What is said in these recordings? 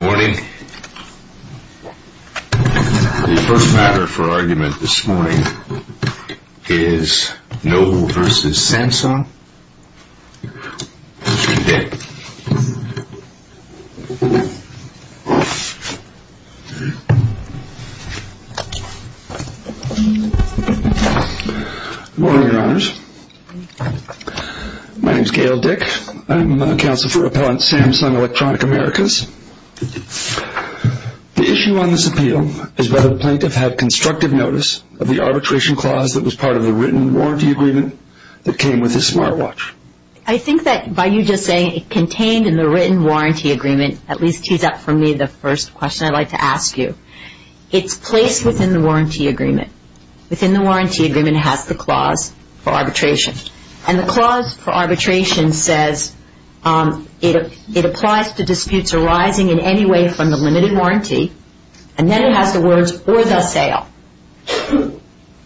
Good morning. The first matter for argument this morning is Noble v. Samsung v. Dick. The issue on this appeal is whether the plaintiff had constructive notice of the arbitration clause that was part of the written warranty agreement that came with his smartwatch. I think that by you just saying it contained in the written warranty agreement, at least tees up for me the first question I'd like to ask you. It's placed within the warranty agreement. Within the warranty agreement it has the clause for arbitration. And the clause for arbitration says it applies to disputes arising in any way from the limited warranty and then it has the words or the sale.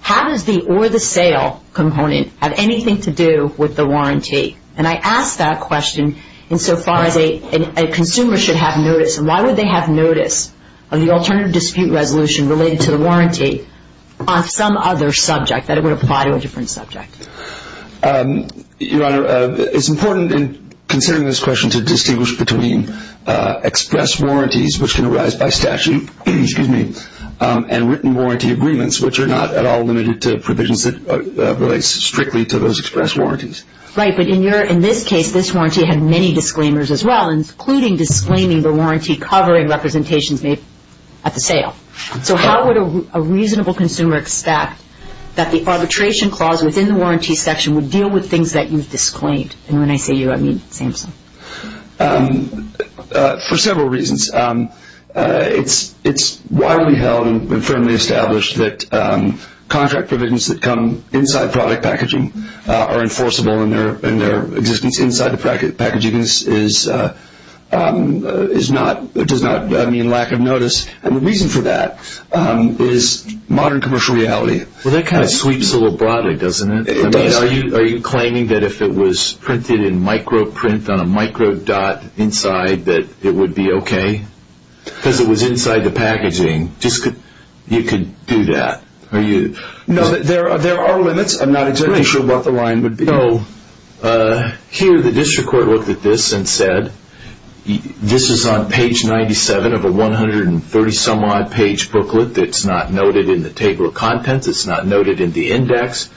How does the or the sale component have anything to do with the warranty? And I ask that question in so far as a consumer should have notice and why would they have notice of the alternative dispute resolution related to the warranty on some other subject that it would apply to a different subject? Your Honor, it's important in considering this question to distinguish between express warranties which can arise by statute, excuse me, and written warranty agreements which are not at all limited to provisions that relates strictly to those express warranties. Right, but in this case this warranty had many disclaimers as well, including disclaiming the warranty covering representations made at the sale. So how would a reasonable consumer expect that the arbitration clause within the warranty section would deal with things that you've disclaimed? And when I say you, I mean Samson. For several reasons. It's widely held and firmly established that contract provisions that come inside product packaging are enforceable and their existence inside the packaging is not, does not mean lack of notice. And the reason for that is modern commercial reality. Well that kind of sweeps a little broadly, doesn't it? I mean, are you claiming that if it was printed in micro print on a micro dot inside that it would be okay? Because it was inside the packaging, you could do that? No, there are limits. I'm not exactly sure what the line would be. So, here the district court looked at this and said, this is on page 97 of a 130 some odd page booklet that's not noted in the table of contents, it's not noted in the index.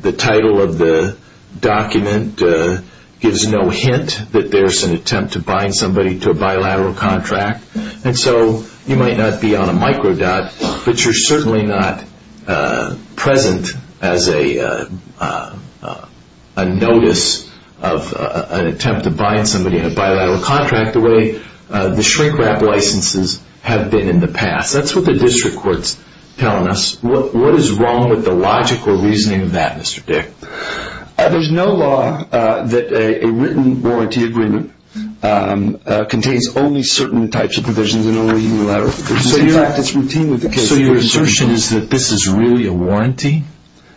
The title of the document gives no hint that there's an attempt to bind somebody to a bilateral contract. And so, you might not be on a micro dot, but you're certainly not present as a notice of an attempt to bind somebody in a bilateral contract the way the shrink wrap licenses have been in the past. That's what the district court's telling us. What is wrong with the logical reasoning of that, Mr. Dick? There's no law that a written warranty agreement contains only certain types of provisions and only unilateral provisions. In fact, it's routine with the case of the district court. So, your assertion is that this is really a warranty?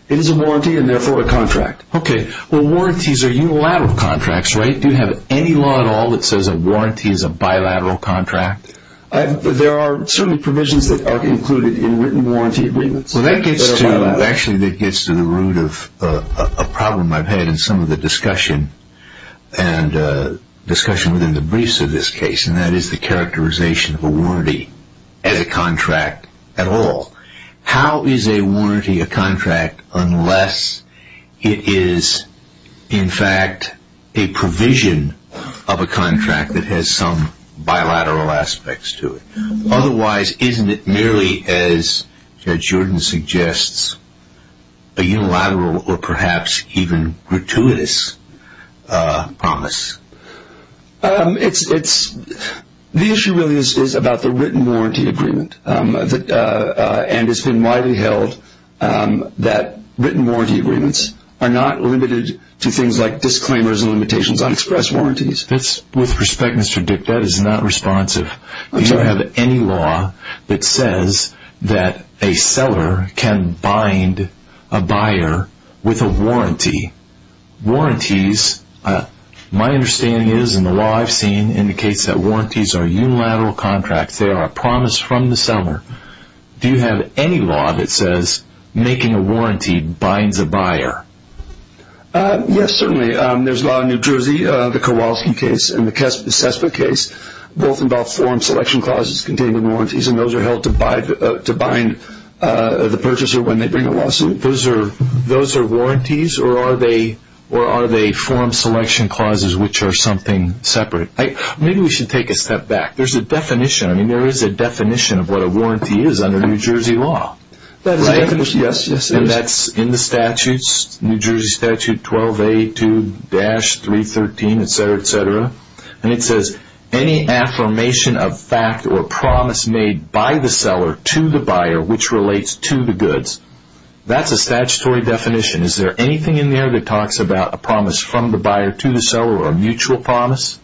It is a warranty and therefore a contract. Okay, well warranties are unilateral contracts, right? Do you have any law at all that says a warranty is a bilateral contract? There are certainly provisions that are included in written warranty agreements. Well, that gets to the root of a problem I've had in some of the discussion and discussion within the briefs of this case, and that is the characterization of a warranty as a contract at all. How is a warranty a contract unless it is, in fact, a provision of a contract that has some bilateral aspects to it? Otherwise, isn't it merely, as Judge Jordan suggests, a unilateral or perhaps even gratuitous promise? The issue really is about the written warranty agreement, and it's been widely held that written warranty agreements are not limited to things like disclaimers and limitations on express warranties. With respect, Mr. Dick, that is not responsive. Do you have any law that says that a seller can bind a buyer with a warranty? Warranties, my understanding is, and the law I've seen indicates that warranties are unilateral contracts. They are a promise from the seller. Do you have any law that says making a warranty binds a buyer? Yes, certainly. There's a law in New Jersey, the Kowalski case and the Cespa case. Both involve form selection clauses containing warranties, and those are held to bind the purchaser when they bring a lawsuit. Those are warranties, or are they form selection clauses which are something separate? Maybe we should take a step back. There's a definition. I mean, there is a definition of what a warranty is under New Jersey law. That's in the statutes, New Jersey Statute 12A2-313, etc., etc., and it says, any affirmation of fact or promise made by the seller to the buyer which relates to the goods. That's a statutory definition. Is there anything in there that talks about a promise from the buyer to the seller or a mutual promise?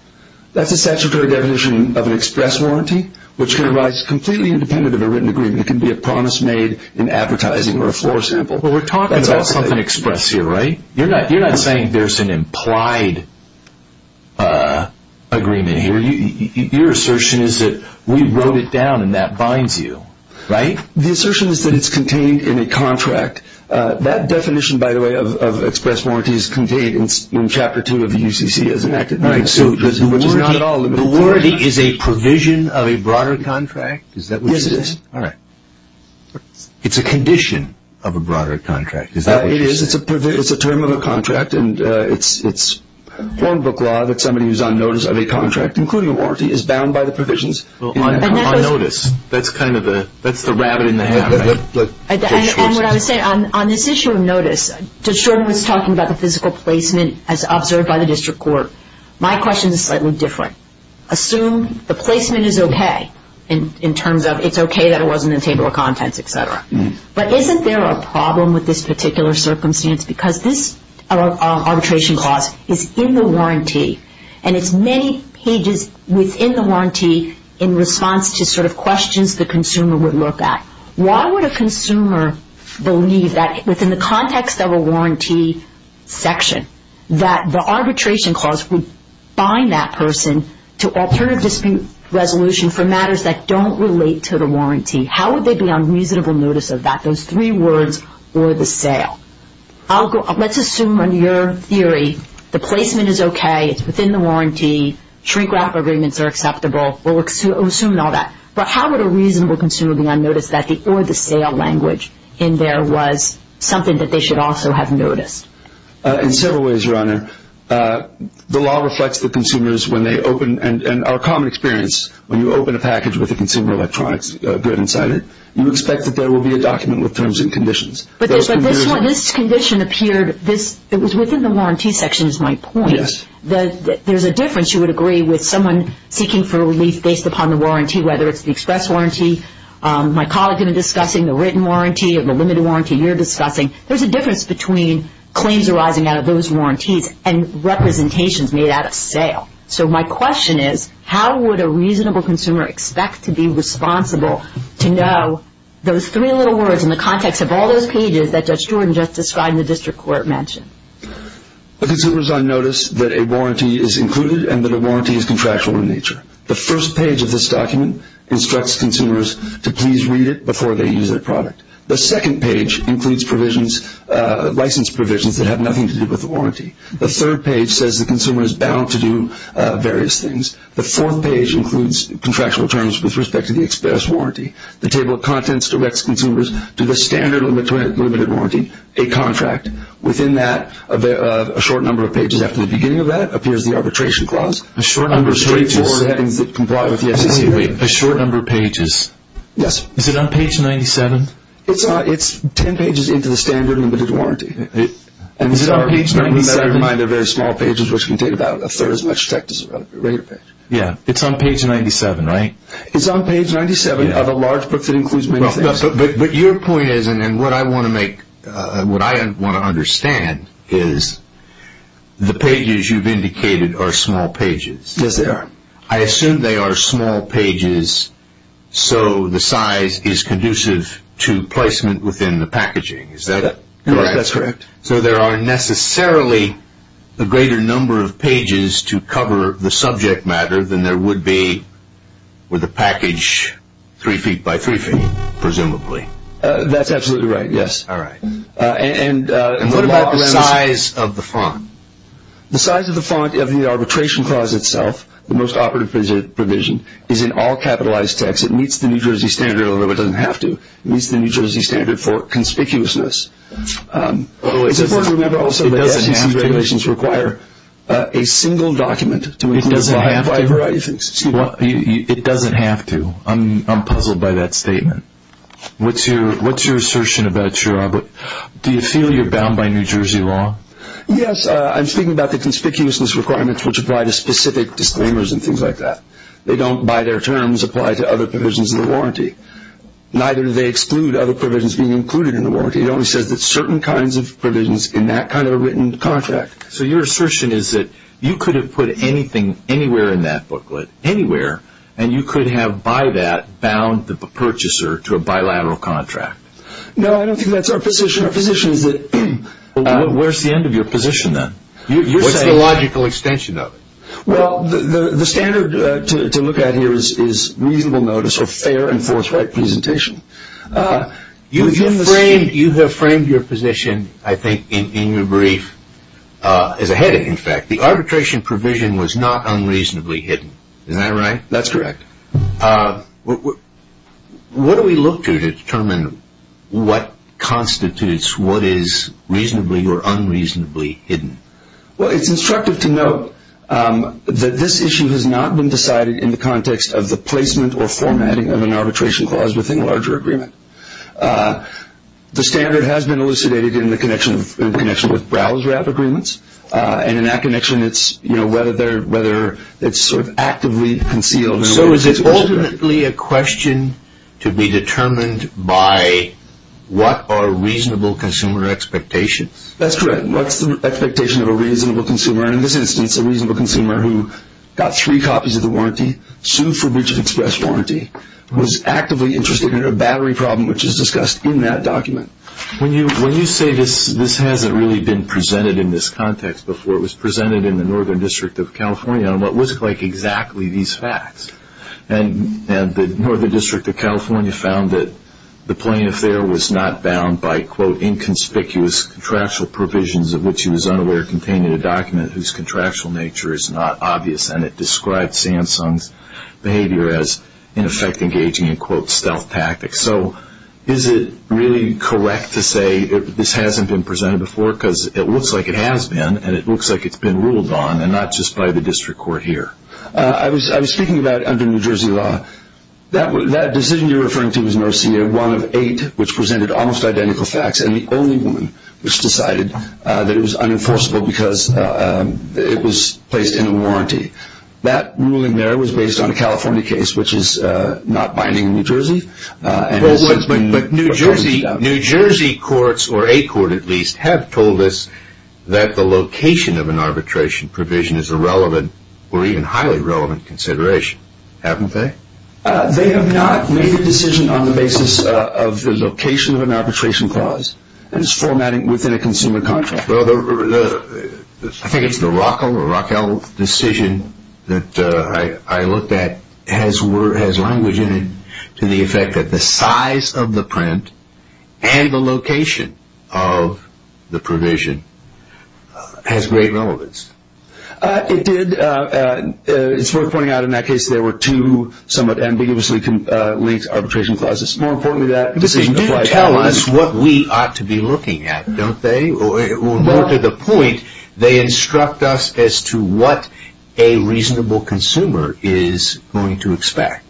That's a statutory definition of an express warranty, which can arise completely independent of a written agreement. It can be a promise made in advertising or a floor sample. But we're talking about something express here, right? You're not saying there's an implied agreement here. Your assertion is that we wrote it down and that binds you, right? The assertion is that it's contained in a contract. That definition, by the way, of express warranty is contained in Chapter 2 of the UCC as an act of... The warranty is a provision of a broader contract? It's a condition of a broader contract. It is. It's a term of a contract, and it's foreign book law that somebody who's on notice of a contract, including a warranty, is bound by the provisions on notice. That's the rabbit in the hat. And what I was saying, on this issue of notice, Judge Shorten was talking about the physical placement as observed by the district court. My question is slightly different. Assume the placement is okay in terms of it's okay that it wasn't in the table of contents, et cetera. But isn't there a problem with this particular circumstance? Because this arbitration clause is in the warranty, and it's many pages within the warranty in response to sort of questions the consumer would look at. Why would a consumer believe that within the context of a warranty section, that the arbitration clause would bind that person to alternative dispute resolution for matters that don't relate to the warranty? How would they be on reasonable notice of that, those three words or the sale? Let's assume under your theory the placement is okay, it's within the warranty, shrink-wrap agreements are acceptable. We'll assume all that. But how would a reasonable consumer be on notice of that, or the sale language in there was something that they should also have noticed? In several ways, Your Honor. The law reflects the consumers when they open, and our common experience when you open a package with a consumer electronics good inside it, you expect that there will be a document with terms and conditions. But this condition appeared, it was within the warranty section is my point. There's a difference, you would agree, with someone seeking for relief based upon the warranty, whether it's the express warranty, my colleague and I discussing, the written warranty, or the limited warranty you're discussing. There's a difference between claims arising out of those warranties and representations made out of sale. So my question is, how would a reasonable consumer expect to be responsible to know those three little words in the context of all those pages that Judge Stewart just described and the district court mentioned? A consumer is on notice that a warranty is included and that a warranty is contractual in nature. The first page of this document instructs consumers to please read it before they use their product. The second page includes provisions, license provisions that have nothing to do with the warranty. The third page says the consumer is bound to do various things. The fourth page includes contractual terms with respect to the express warranty. The table of contents directs consumers to the standard limited warranty, a contract. Within that, a short number of pages after the beginning of that appears the arbitration clause. A short number of pages. Straightforward headings that comply with the FCC. A short number of pages. Yes. Is it on page 97? It's 10 pages into the standard limited warranty. Is it on page 97? And we better remind they're very small pages which can take about a third as much text as a regular page. Yeah. It's on page 97, right? It's on page 97 of a large book that includes many things. But your point is, and what I want to make, what I want to understand is, the pages you've indicated are small pages. Yes, they are. I assume they are small pages so the size is conducive to placement within the packaging. Is that correct? That's correct. So there are necessarily a greater number of pages to cover the subject matter than there would be with a package three feet by three feet, presumably. That's absolutely right, yes. All right. And what about the size of the font? The size of the font of the arbitration clause itself, the most operative provision, is in all capitalized text. It meets the New Jersey standard, although it doesn't have to. It meets the New Jersey standard for conspicuousness. It's important to remember also that SEC regulations require a single document. It doesn't have to. It doesn't have to. I'm puzzled by that statement. What's your assertion about your, do you feel you're bound by New Jersey law? Yes, I'm speaking about the conspicuousness requirements, which apply to specific disclaimers and things like that. They don't, by their terms, apply to other provisions of the warranty. Neither do they exclude other provisions being included in the warranty. It only says that certain kinds of provisions in that kind of a written contract. So your assertion is that you could have put anything anywhere in that booklet, anywhere, and you could have, by that, bound the purchaser to a bilateral contract. No, I don't think that's our position. Where's the end of your position, then? What's the logical extension of it? Well, the standard to look at here is reasonable notice of fair and forthright presentation. You have framed your position, I think, in your brief as a headache, in fact. The arbitration provision was not unreasonably hidden. Is that right? That's correct. What do we look to to determine what constitutes what is reasonably or unreasonably hidden? Well, it's instructive to note that this issue has not been decided in the context of the placement or formatting of an arbitration clause within a larger agreement. The standard has been elucidated in the connection with browser app agreements, and in that connection it's whether it's sort of actively concealed. So is it ultimately a question to be determined by what are reasonable consumer expectations? That's correct. What's the expectation of a reasonable consumer? And in this instance, a reasonable consumer who got three copies of the warranty, sued for breach of express warranty, was actively interested in a battery problem, which is discussed in that document. When you say this, this hasn't really been presented in this context before. It was presented in the Northern District of California on what looked like exactly these facts. And the Northern District of California found that the plaintiff there was not bound by, quote, inconspicuous contractual provisions of which he was unaware contained in a document whose contractual nature is not obvious, and it described Samsung's behavior as, in effect, engaging in, quote, stealth tactics. So is it really correct to say this hasn't been presented before? Because it looks like it has been, and it looks like it's been ruled on, and not just by the district court here. I was speaking about under New Jersey law, that decision you're referring to was an OCA, one of eight which presented almost identical facts, and the only one which decided that it was unenforceable because it was placed in a warranty. That ruling there was based on a California case, which is not binding in New Jersey. But New Jersey courts, or a court at least, have told us that the location of an arbitration provision is a relevant or even highly relevant consideration, haven't they? They have not made the decision on the basis of the location of an arbitration clause. It is formatting within a consumer contract. I think it's the Rockwell decision that I looked at, has language in it to the effect that the size of the print and the location of the provision has great relevance. It did. It's worth pointing out in that case there were two somewhat ambiguously linked arbitration clauses. More importantly, that decision did tell us what we ought to be looking at, don't they? More to the point, they instruct us as to what a reasonable consumer is going to expect.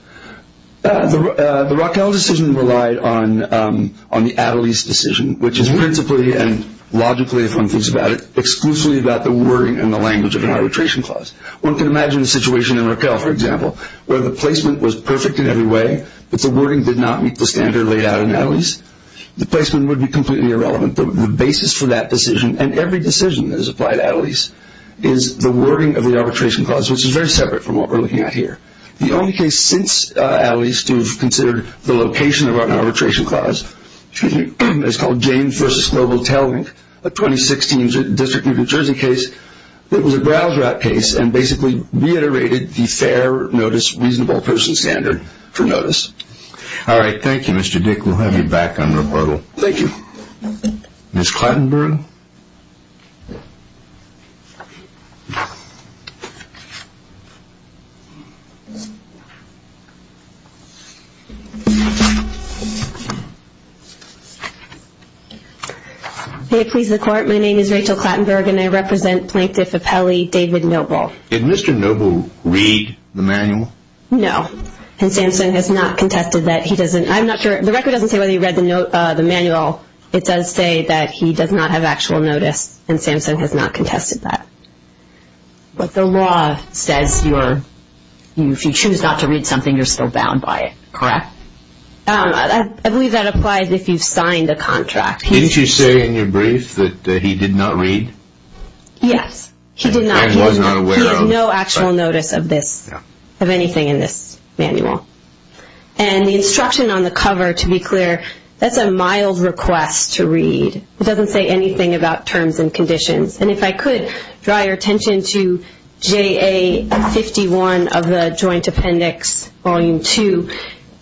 The Rockwell decision relied on the Attlees decision, which is principally and logically, if one thinks about it, exclusively about the wording and the language of an arbitration clause. One can imagine a situation in Rockwell, for example, where the placement was perfect in every way, but the wording did not meet the standard laid out in Attlees. The placement would be completely irrelevant. The basis for that decision, and every decision that is applied to Attlees, is the wording of the arbitration clause, which is very separate from what we're looking at here. The only case since Attlees to have considered the location of an arbitration clause, is called James v. Global Tail Link, a 2016 District of New Jersey case. It was a browse rat case and basically reiterated the fair notice, reasonable person standard for notice. All right. Thank you, Mr. Dick. We'll have you back on rebuttal. Thank you. Ms. Clattenberg? May it please the Court, my name is Rachel Clattenberg and I represent Plaintiff Appelli, David Noble. Did Mr. Noble read the manual? No. And Samson has not contested that he doesn't. I'm not sure. The record doesn't say whether he read the manual. It does say that he does not have actual notice and Samson has not contested that. But the law says if you choose not to read something, you're still bound by it, correct? I believe that applies if you've signed a contract. Didn't you say in your brief that he did not read? Yes. He did not read. And was not aware of. No actual notice of this, of anything in this manual. And the instruction on the cover, to be clear, that's a mild request to read. It doesn't say anything about terms and conditions. And if I could draw your attention to JA51 of the Joint Appendix Volume 2,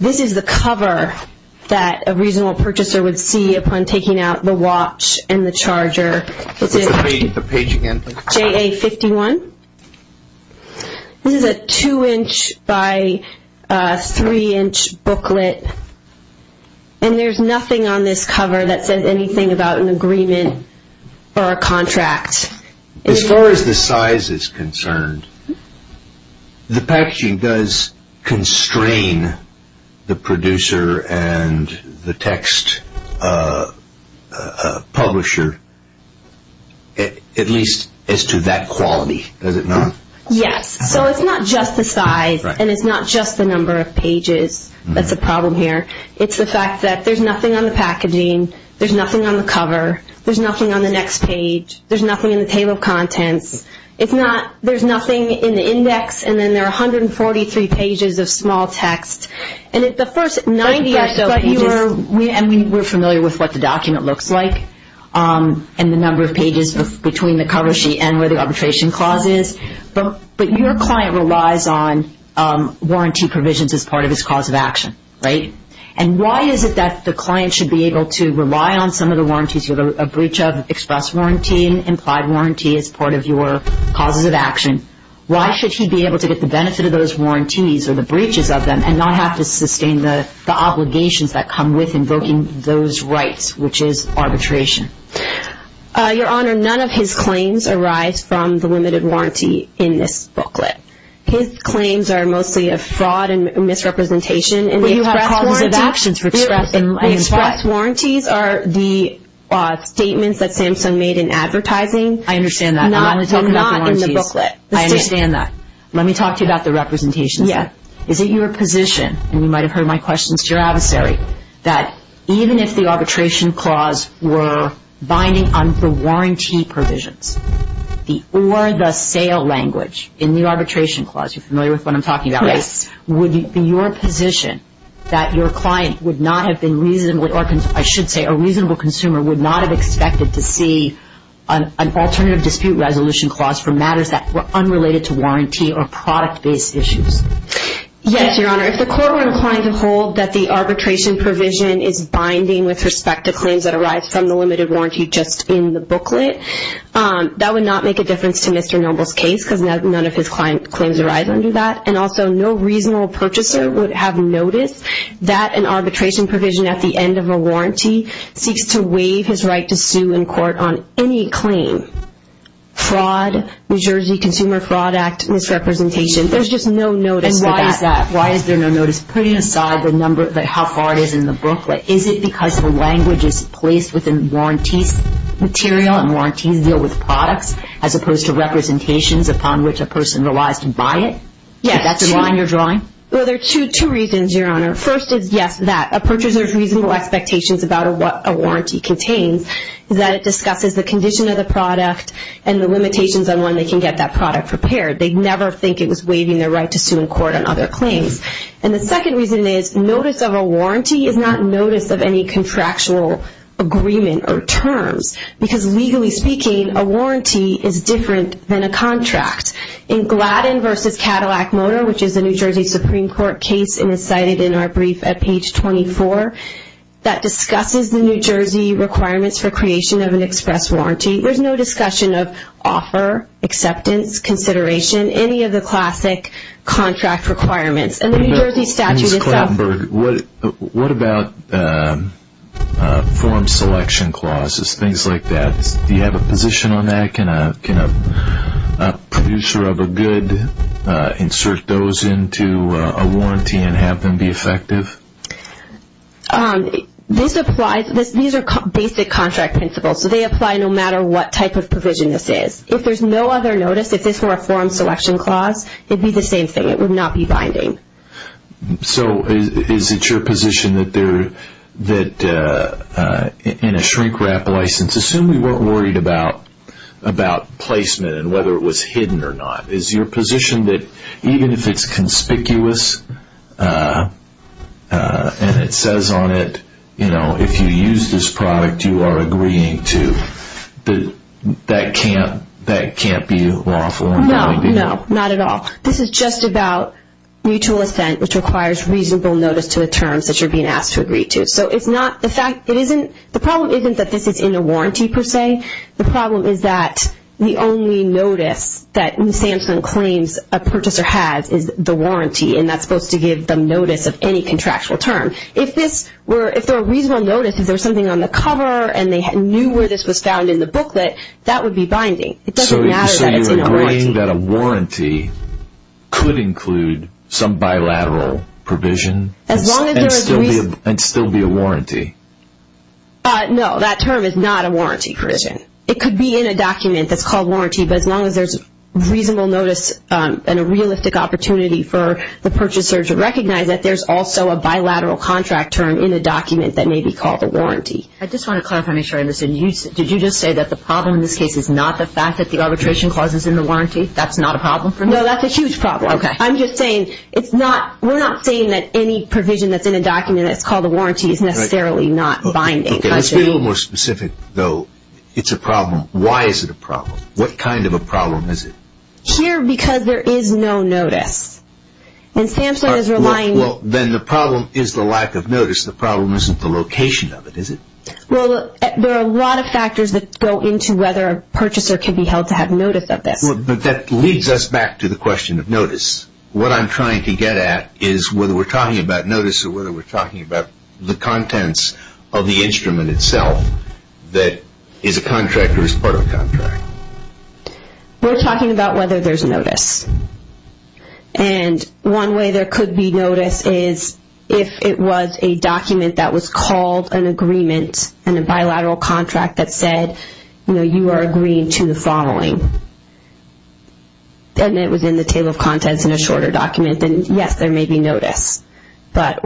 this is the cover that a reasonable purchaser would see upon taking out the watch and the charger. Read the page again, please. JA51. This is a 2-inch by 3-inch booklet. And there's nothing on this cover that says anything about an agreement or a contract. As far as the size is concerned, the packaging does constrain the producer and the text publisher at least as to that quality, does it not? Yes. So it's not just the size and it's not just the number of pages that's a problem here. It's the fact that there's nothing on the packaging, there's nothing on the cover, there's nothing on the next page, there's nothing in the table of contents. There's nothing in the index and then there are 143 pages of small text. And at the first 90 or so pages we're familiar with what the document looks like and the number of pages between the cover sheet and where the arbitration clause is. But your client relies on warranty provisions as part of his cause of action, right? And why is it that the client should be able to rely on some of the warranties with a breach of express warranty and implied warranty as part of your causes of action? Why should he be able to get the benefit of those warranties or the breaches of them and not have to sustain the obligations that come with invoking those rights, which is arbitration? Your Honor, none of his claims arise from the limited warranty in this booklet. His claims are mostly of fraud and misrepresentation in the express warranty. But you have causes of action for express and limited warranty. Express warranties are the statements that Samsung made in advertising. I understand that. They're not in the booklet. I understand that. Let me talk to you about the representation. Is it your position, and you might have heard my questions to your adversary, that even if the arbitration clause were binding on the warranty provisions or the sale language in the arbitration clause, you're familiar with what I'm talking about, right? Yes. Would it be your position that your client would not have been reasonably, or I should say a reasonable consumer would not have expected to see an alternative dispute resolution clause for matters that were unrelated to warranty or product-based issues? Yes, Your Honor. If the court were inclined to hold that the arbitration provision is binding with respect to claims that arise from the limited warranty just in the booklet, that would not make a difference to Mr. Noble's case because none of his claims arise under that. And also, no reasonable purchaser would have noticed that an arbitration provision at the end of a warranty seeks to waive his right to sue in court on any claim, fraud, New Jersey Consumer Fraud Act misrepresentation. There's just no notice for that. And why is there no notice? Putting aside how far it is in the booklet, is it because the language is placed within warranties material and warranties deal with products as opposed to representations upon which a person relies to buy it? Yes. Is that the line you're drawing? Well, there are two reasons, Your Honor. First is, yes, that a purchaser's reasonable expectations about what a warranty contains, that it discusses the condition of the product and the limitations on when they can get that product prepared. They'd never think it was waiving their right to sue in court on other claims. And the second reason is notice of a warranty is not notice of any contractual agreement or terms because legally speaking, a warranty is different than a contract. In Gladden v. Cadillac Motor, which is a New Jersey Supreme Court case, and is cited in our brief at page 24, that discusses the New Jersey requirements for creation of an express warranty. There's no discussion of offer, acceptance, consideration, any of the classic contract requirements. And the New Jersey statute itself... Ms. Klattenberg, what about form selection clauses, things like that? Do you have a position on that? Can a producer of a good insert those into a warranty and have them be effective? These are basic contract principles, so they apply no matter what type of provision this is. If there's no other notice, if this were a form selection clause, it'd be the same thing. It would not be binding. So is it your position that in a shrink-wrap license, let's assume we weren't worried about placement and whether it was hidden or not. Is your position that even if it's conspicuous and it says on it, you know, if you use this product, you are agreeing to, that can't be lawful? No, no, not at all. This is just about mutual assent, which requires reasonable notice to the terms that you're being asked to agree to. So the problem isn't that this is in a warranty per se. The problem is that the only notice that Samson claims a purchaser has is the warranty, and that's supposed to give them notice of any contractual term. If there were reasonable notice, if there was something on the cover and they knew where this was found in the booklet, that would be binding. It doesn't matter that it's in a warranty. So you're agreeing that a warranty could include some bilateral provision? And still be a warranty? No, that term is not a warranty provision. It could be in a document that's called warranty, but as long as there's reasonable notice and a realistic opportunity for the purchaser to recognize it, there's also a bilateral contract term in a document that may be called a warranty. I just want to clarify, Ms. Anderson, did you just say that the problem in this case is not the fact that the arbitration clause is in the warranty? That's not a problem for me? No, that's a huge problem. Okay. I'm just saying, we're not saying that any provision that's in a document that's called a warranty is necessarily not binding. Okay, let's be a little more specific, though. It's a problem. Why is it a problem? What kind of a problem is it? Here, because there is no notice. And SAMHSA is relying – Well, then the problem is the lack of notice. The problem isn't the location of it, is it? Well, there are a lot of factors that go into whether a purchaser can be held to have notice of this. But that leads us back to the question of notice. What I'm trying to get at is whether we're talking about notice or whether we're talking about the contents of the instrument itself that is a contract or is part of a contract. We're talking about whether there's notice. And one way there could be notice is if it was a document that was called an agreement and a bilateral contract that said, you know, you are agreeing to the following. And it was in the table of contents in a shorter document, then yes, there may be notice. But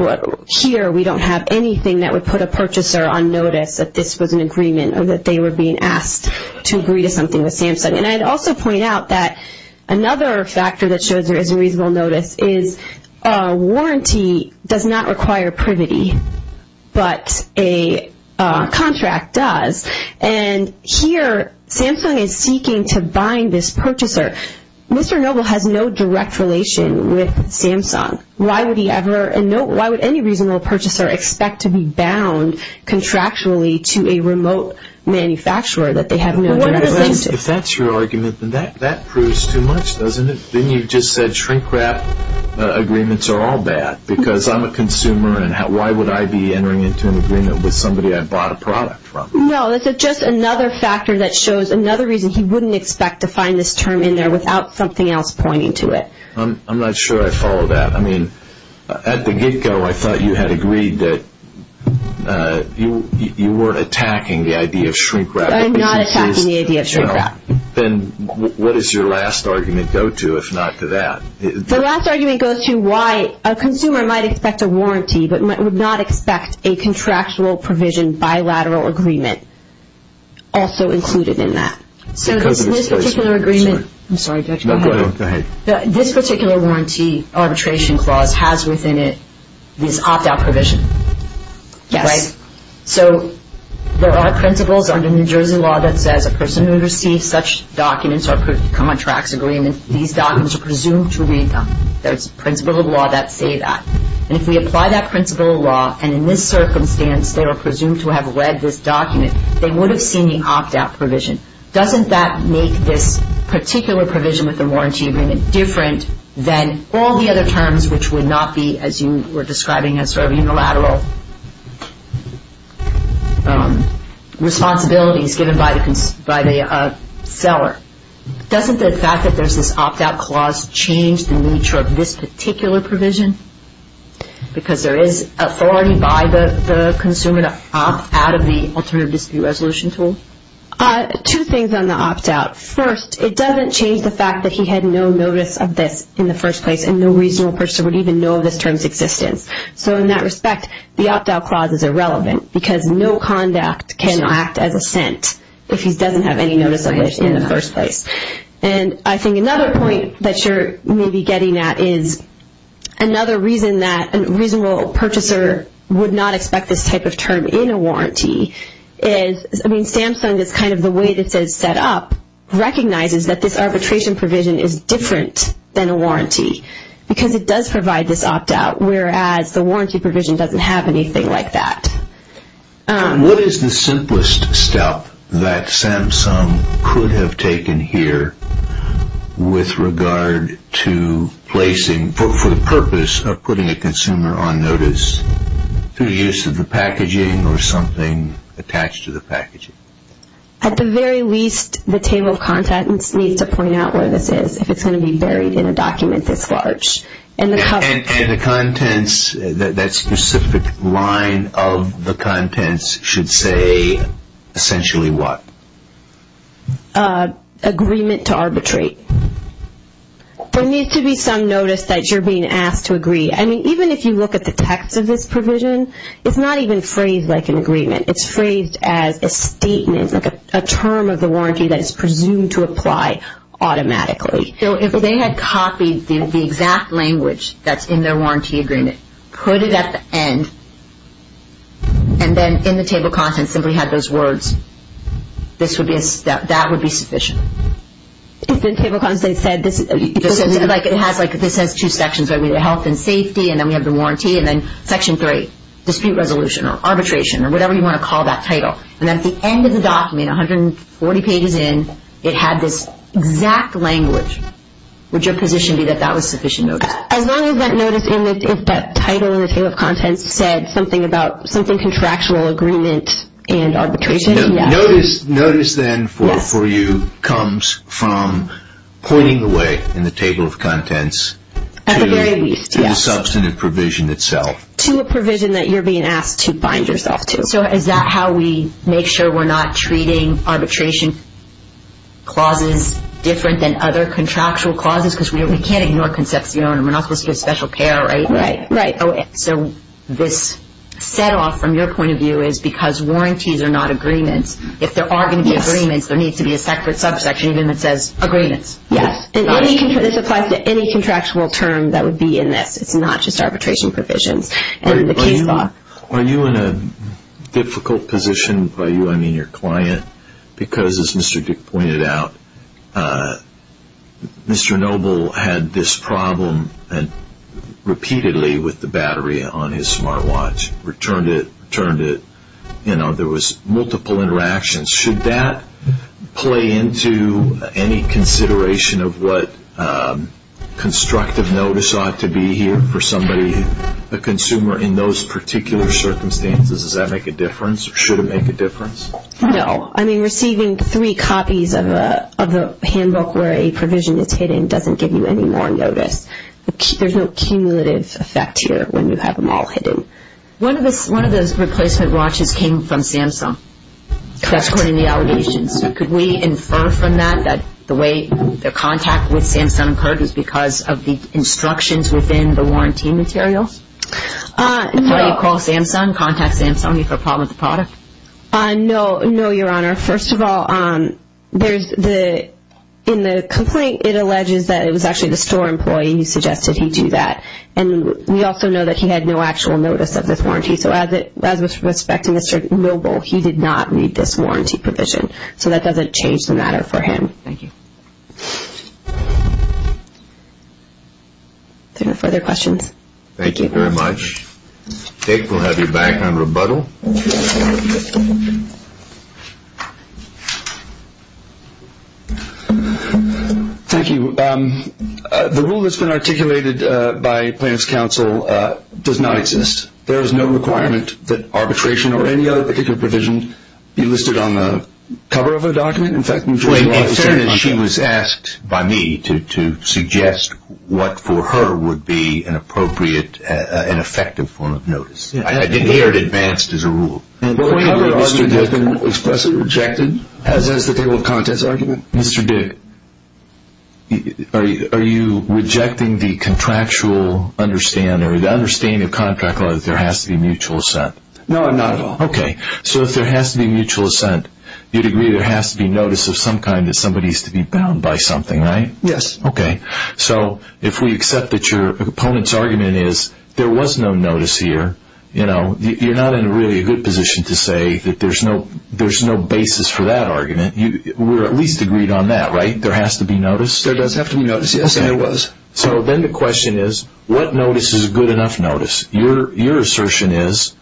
here, we don't have anything that would put a purchaser on notice that this was an agreement or that they were being asked to agree to something with SAMHSA. And I'd also point out that another factor that shows there is a reasonable notice is that a warranty does not require privity, but a contract does. And here, SAMHSA is seeking to bind this purchaser. Mr. Noble has no direct relation with SAMHSA. Why would he ever, and why would any reasonable purchaser expect to be bound contractually to a remote manufacturer that they have no direct relation to? If that's your argument, then that proves too much, doesn't it? Then you just said shrink-wrap agreements are all bad because I'm a consumer and why would I be entering into an agreement with somebody I bought a product from? No, that's just another factor that shows another reason he wouldn't expect to find this term in there without something else pointing to it. I'm not sure I follow that. I mean, at the get-go, I thought you had agreed that you weren't attacking the idea of shrink-wrap. I'm not attacking the idea of shrink-wrap. Then what does your last argument go to, if not to that? The last argument goes to why a consumer might expect a warranty, but would not expect a contractual provision bilateral agreement also included in that. This particular warranty arbitration clause has within it this opt-out provision. Yes. All right. So there are principles under New Jersey law that says a person who receives such documents are proved to come on tracts agreement. These documents are presumed to read them. There's a principle of law that say that. And if we apply that principle of law, and in this circumstance, they are presumed to have read this document, they would have seen the opt-out provision. Doesn't that make this particular provision with the warranty agreement different than all the other terms which would not be, as you were describing, as sort of unilateral responsibilities given by the seller? Doesn't the fact that there's this opt-out clause change the nature of this particular provision? Because there is authority by the consumer to opt out of the alternative dispute resolution tool? Two things on the opt-out. First, it doesn't change the fact that he had no notice of this in the first place and no reasonable purchaser would even know of this term's existence. So in that respect, the opt-out clause is irrelevant because no conduct can act as assent if he doesn't have any notice of this in the first place. And I think another point that you're maybe getting at is another reason that a reasonable purchaser would not expect this type of term in a warranty is, I mean, recognizes that this arbitration provision is different than a warranty because it does provide this opt-out, whereas the warranty provision doesn't have anything like that. What is the simplest step that Samsung could have taken here with regard to placing, for the purpose of putting a consumer on notice through use of the packaging or something attached to the packaging? At the very least, the table of contents needs to point out where this is, if it's going to be buried in a document this large. And the contents, that specific line of the contents should say essentially what? Agreement to arbitrate. There needs to be some notice that you're being asked to agree. I mean, even if you look at the text of this provision, it's not even phrased like an agreement. It's phrased as a statement, like a term of the warranty that is presumed to apply automatically. So if they had copied the exact language that's in their warranty agreement, put it at the end, and then in the table of contents simply had those words, that would be sufficient? If in table of contents they said, like this has two sections, right, we have health and safety, and then we have the warranty, and then section three, dispute resolution, or arbitration, or whatever you want to call that title. And at the end of the document, 140 pages in, it had this exact language. Would your position be that that was sufficient notice? As long as that notice, if that title in the table of contents said something about, something contractual agreement and arbitration, yes. Notice then for you comes from pointing the way in the table of contents. At the very least, yes. To a substantive provision itself. To a provision that you're being asked to bind yourself to. So is that how we make sure we're not treating arbitration clauses different than other contractual clauses? Because we can't ignore conception, and we're not supposed to give special care, right? Right. So this set off from your point of view is because warranties are not agreements. If there are going to be agreements, there needs to be a separate subsection even that says agreements. Yes. This applies to any contractual term that would be in this. It's not just arbitration provisions. Are you in a difficult position, by you I mean your client, because as Mr. Dick pointed out, Mr. Noble had this problem repeatedly with the battery on his smart watch. Returned it, returned it. There was multiple interactions. Should that play into any consideration of what constructive notice ought to be here for somebody, a consumer in those particular circumstances? Does that make a difference? Should it make a difference? No. I mean receiving three copies of the handbook where a provision is hidden doesn't give you any more notice. There's no cumulative effect here when you have them all hidden. One of those replacement watches came from Samsung. That's according to the allegations. Could we infer from that that the way their contact with Samsung occurred was because of the instructions within the warranty materials? No. If I call Samsung, contact Samsung, do you have a problem with the product? No, Your Honor. First of all, in the complaint it alleges that it was actually the store employee who suggested he do that. And we also know that he had no actual notice of this warranty. Thank you. So as with respect to Mr. Noble, he did not need this warranty provision. So that doesn't change the matter for him. Thank you. Are there no further questions? Thank you very much. Dick, we'll have you back on rebuttal. Thank you. The rule that's been articulated by Plaintiff's Counsel does not exist. There is no requirement that arbitration or any other particular provision be listed on the cover of a document. In fact, in Georgia law, it's not. She was asked by me to suggest what for her would be an appropriate and effective form of notice. I didn't hear it advanced as a rule. The point of your argument has been expressly rejected, as has the table of contents argument. Mr. Dick, are you rejecting the contractual understanding or the understanding of contract law that there has to be mutual assent? No, not at all. Okay. So if there has to be mutual assent, you'd agree there has to be notice of some kind that somebody has to be bound by something, right? Yes. Okay. So if we accept that your opponent's argument is there was no notice here, you know, you're not in a really good position to say that there's no basis for that argument. We're at least agreed on that, right? There has to be notice? There does have to be notice. Yes, there was. Okay. So then the question is, what notice is a good enough notice? Your assertion is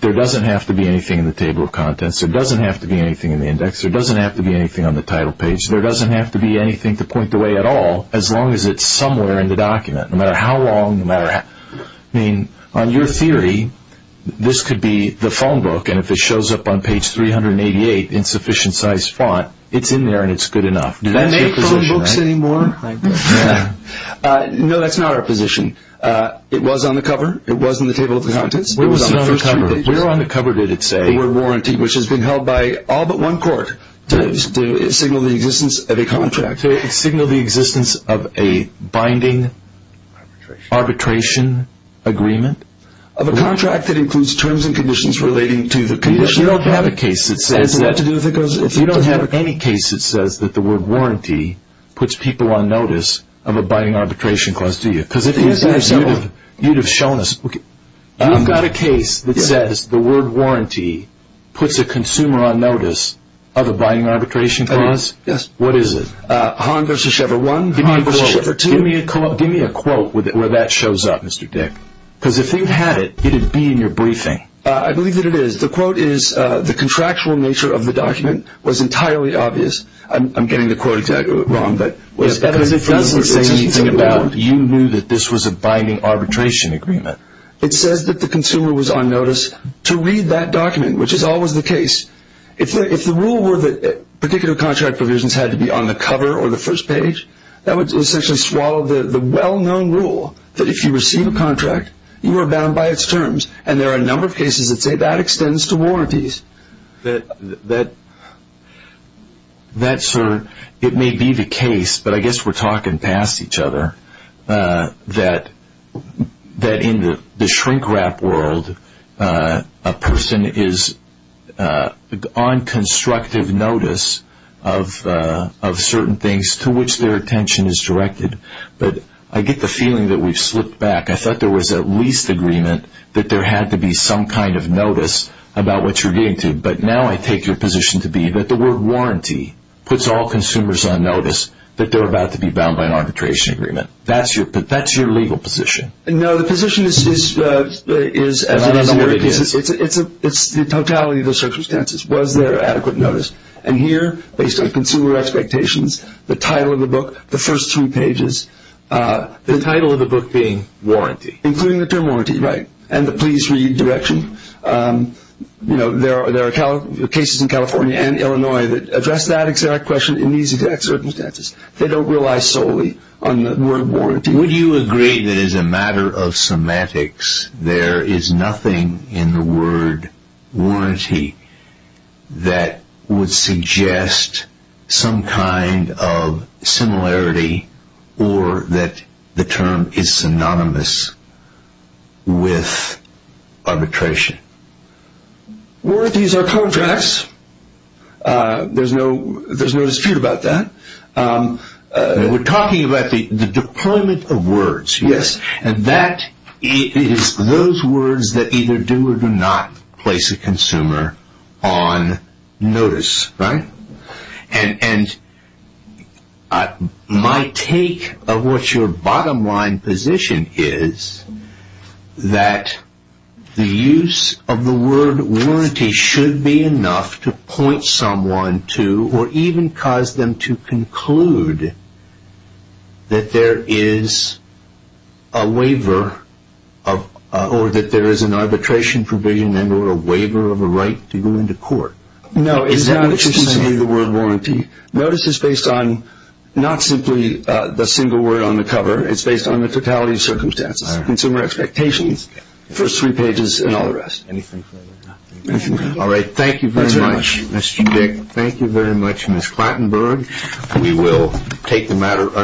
there doesn't have to be anything in the table of contents. There doesn't have to be anything in the index. There doesn't have to be anything on the title page. There doesn't have to be anything to point the way at all, as long as it's somewhere in the document, no matter how long. I mean, on your theory, this could be the phone book, and if it shows up on page 388 in sufficient-sized font, it's in there and it's good enough. Do they make phone books anymore? No, that's not our position. It was on the cover. It was in the table of contents. Where was it on the cover? Where on the cover did it say? The word warranty, which has been held by all but one court. Did it signal the existence of a contract? Arbitration agreement? Of a contract that includes terms and conditions relating to the condition of the contract. You don't have a case that says that. If you don't have any case that says that the word warranty puts people on notice of abiding arbitration clause, do you? Because if you did, you'd have shown us. You've got a case that says the word warranty puts a consumer on notice of abiding arbitration clause? Yes. What is it? Give me a quote. Give me a quote where that shows up, Mr. Dick. Because if you had it, it would be in your briefing. I believe that it is. The quote is, the contractual nature of the document was entirely obvious. I'm getting the quote wrong. Because it doesn't say anything about you knew that this was abiding arbitration agreement. It says that the consumer was on notice to read that document, which is always the case. If the rule were that particular contract provisions had to be on the cover or the first page, that would essentially swallow the well-known rule that if you receive a contract, you are bound by its terms. And there are a number of cases that say that extends to warranties. It may be the case, but I guess we're talking past each other, that in the shrink-wrap world, a person is on constructive notice of certain things to which their attention is directed. But I get the feeling that we've slipped back. I thought there was at least agreement that there had to be some kind of notice about what you're getting to. But now I take your position to be that the word warranty puts all consumers on notice that they're about to be bound by an arbitration agreement. That's your legal position. No, the position is the totality of the circumstances. Was there adequate notice? And here, based on consumer expectations, the title of the book, the first three pages, the title of the book being warranty. Including the term warranty, right, and the please read direction. There are cases in California and Illinois that address that exact question in these exact circumstances. They don't rely solely on the word warranty. There is nothing in the word warranty that would suggest some kind of similarity or that the term is synonymous with arbitration. Warranties are contracts. There's no dispute about that. We're talking about the deployment of words, yes. And that is those words that either do or do not place a consumer on notice, right? And my take of what your bottom line position is that the use of the word warranty should be enough to point someone to or even cause them to conclude that there is a waiver or that there is an arbitration provision and or a waiver of a right to go into court. No. Is that what you're saying, the word warranty? Notice is based on not simply the single word on the cover. It's based on the totality of circumstances, consumer expectations, first three pages, and all the rest. Anything further? All right. Thank you very much, Mr. Dick. Thank you very much, Ms. Klattenberg. We will take the matter under way.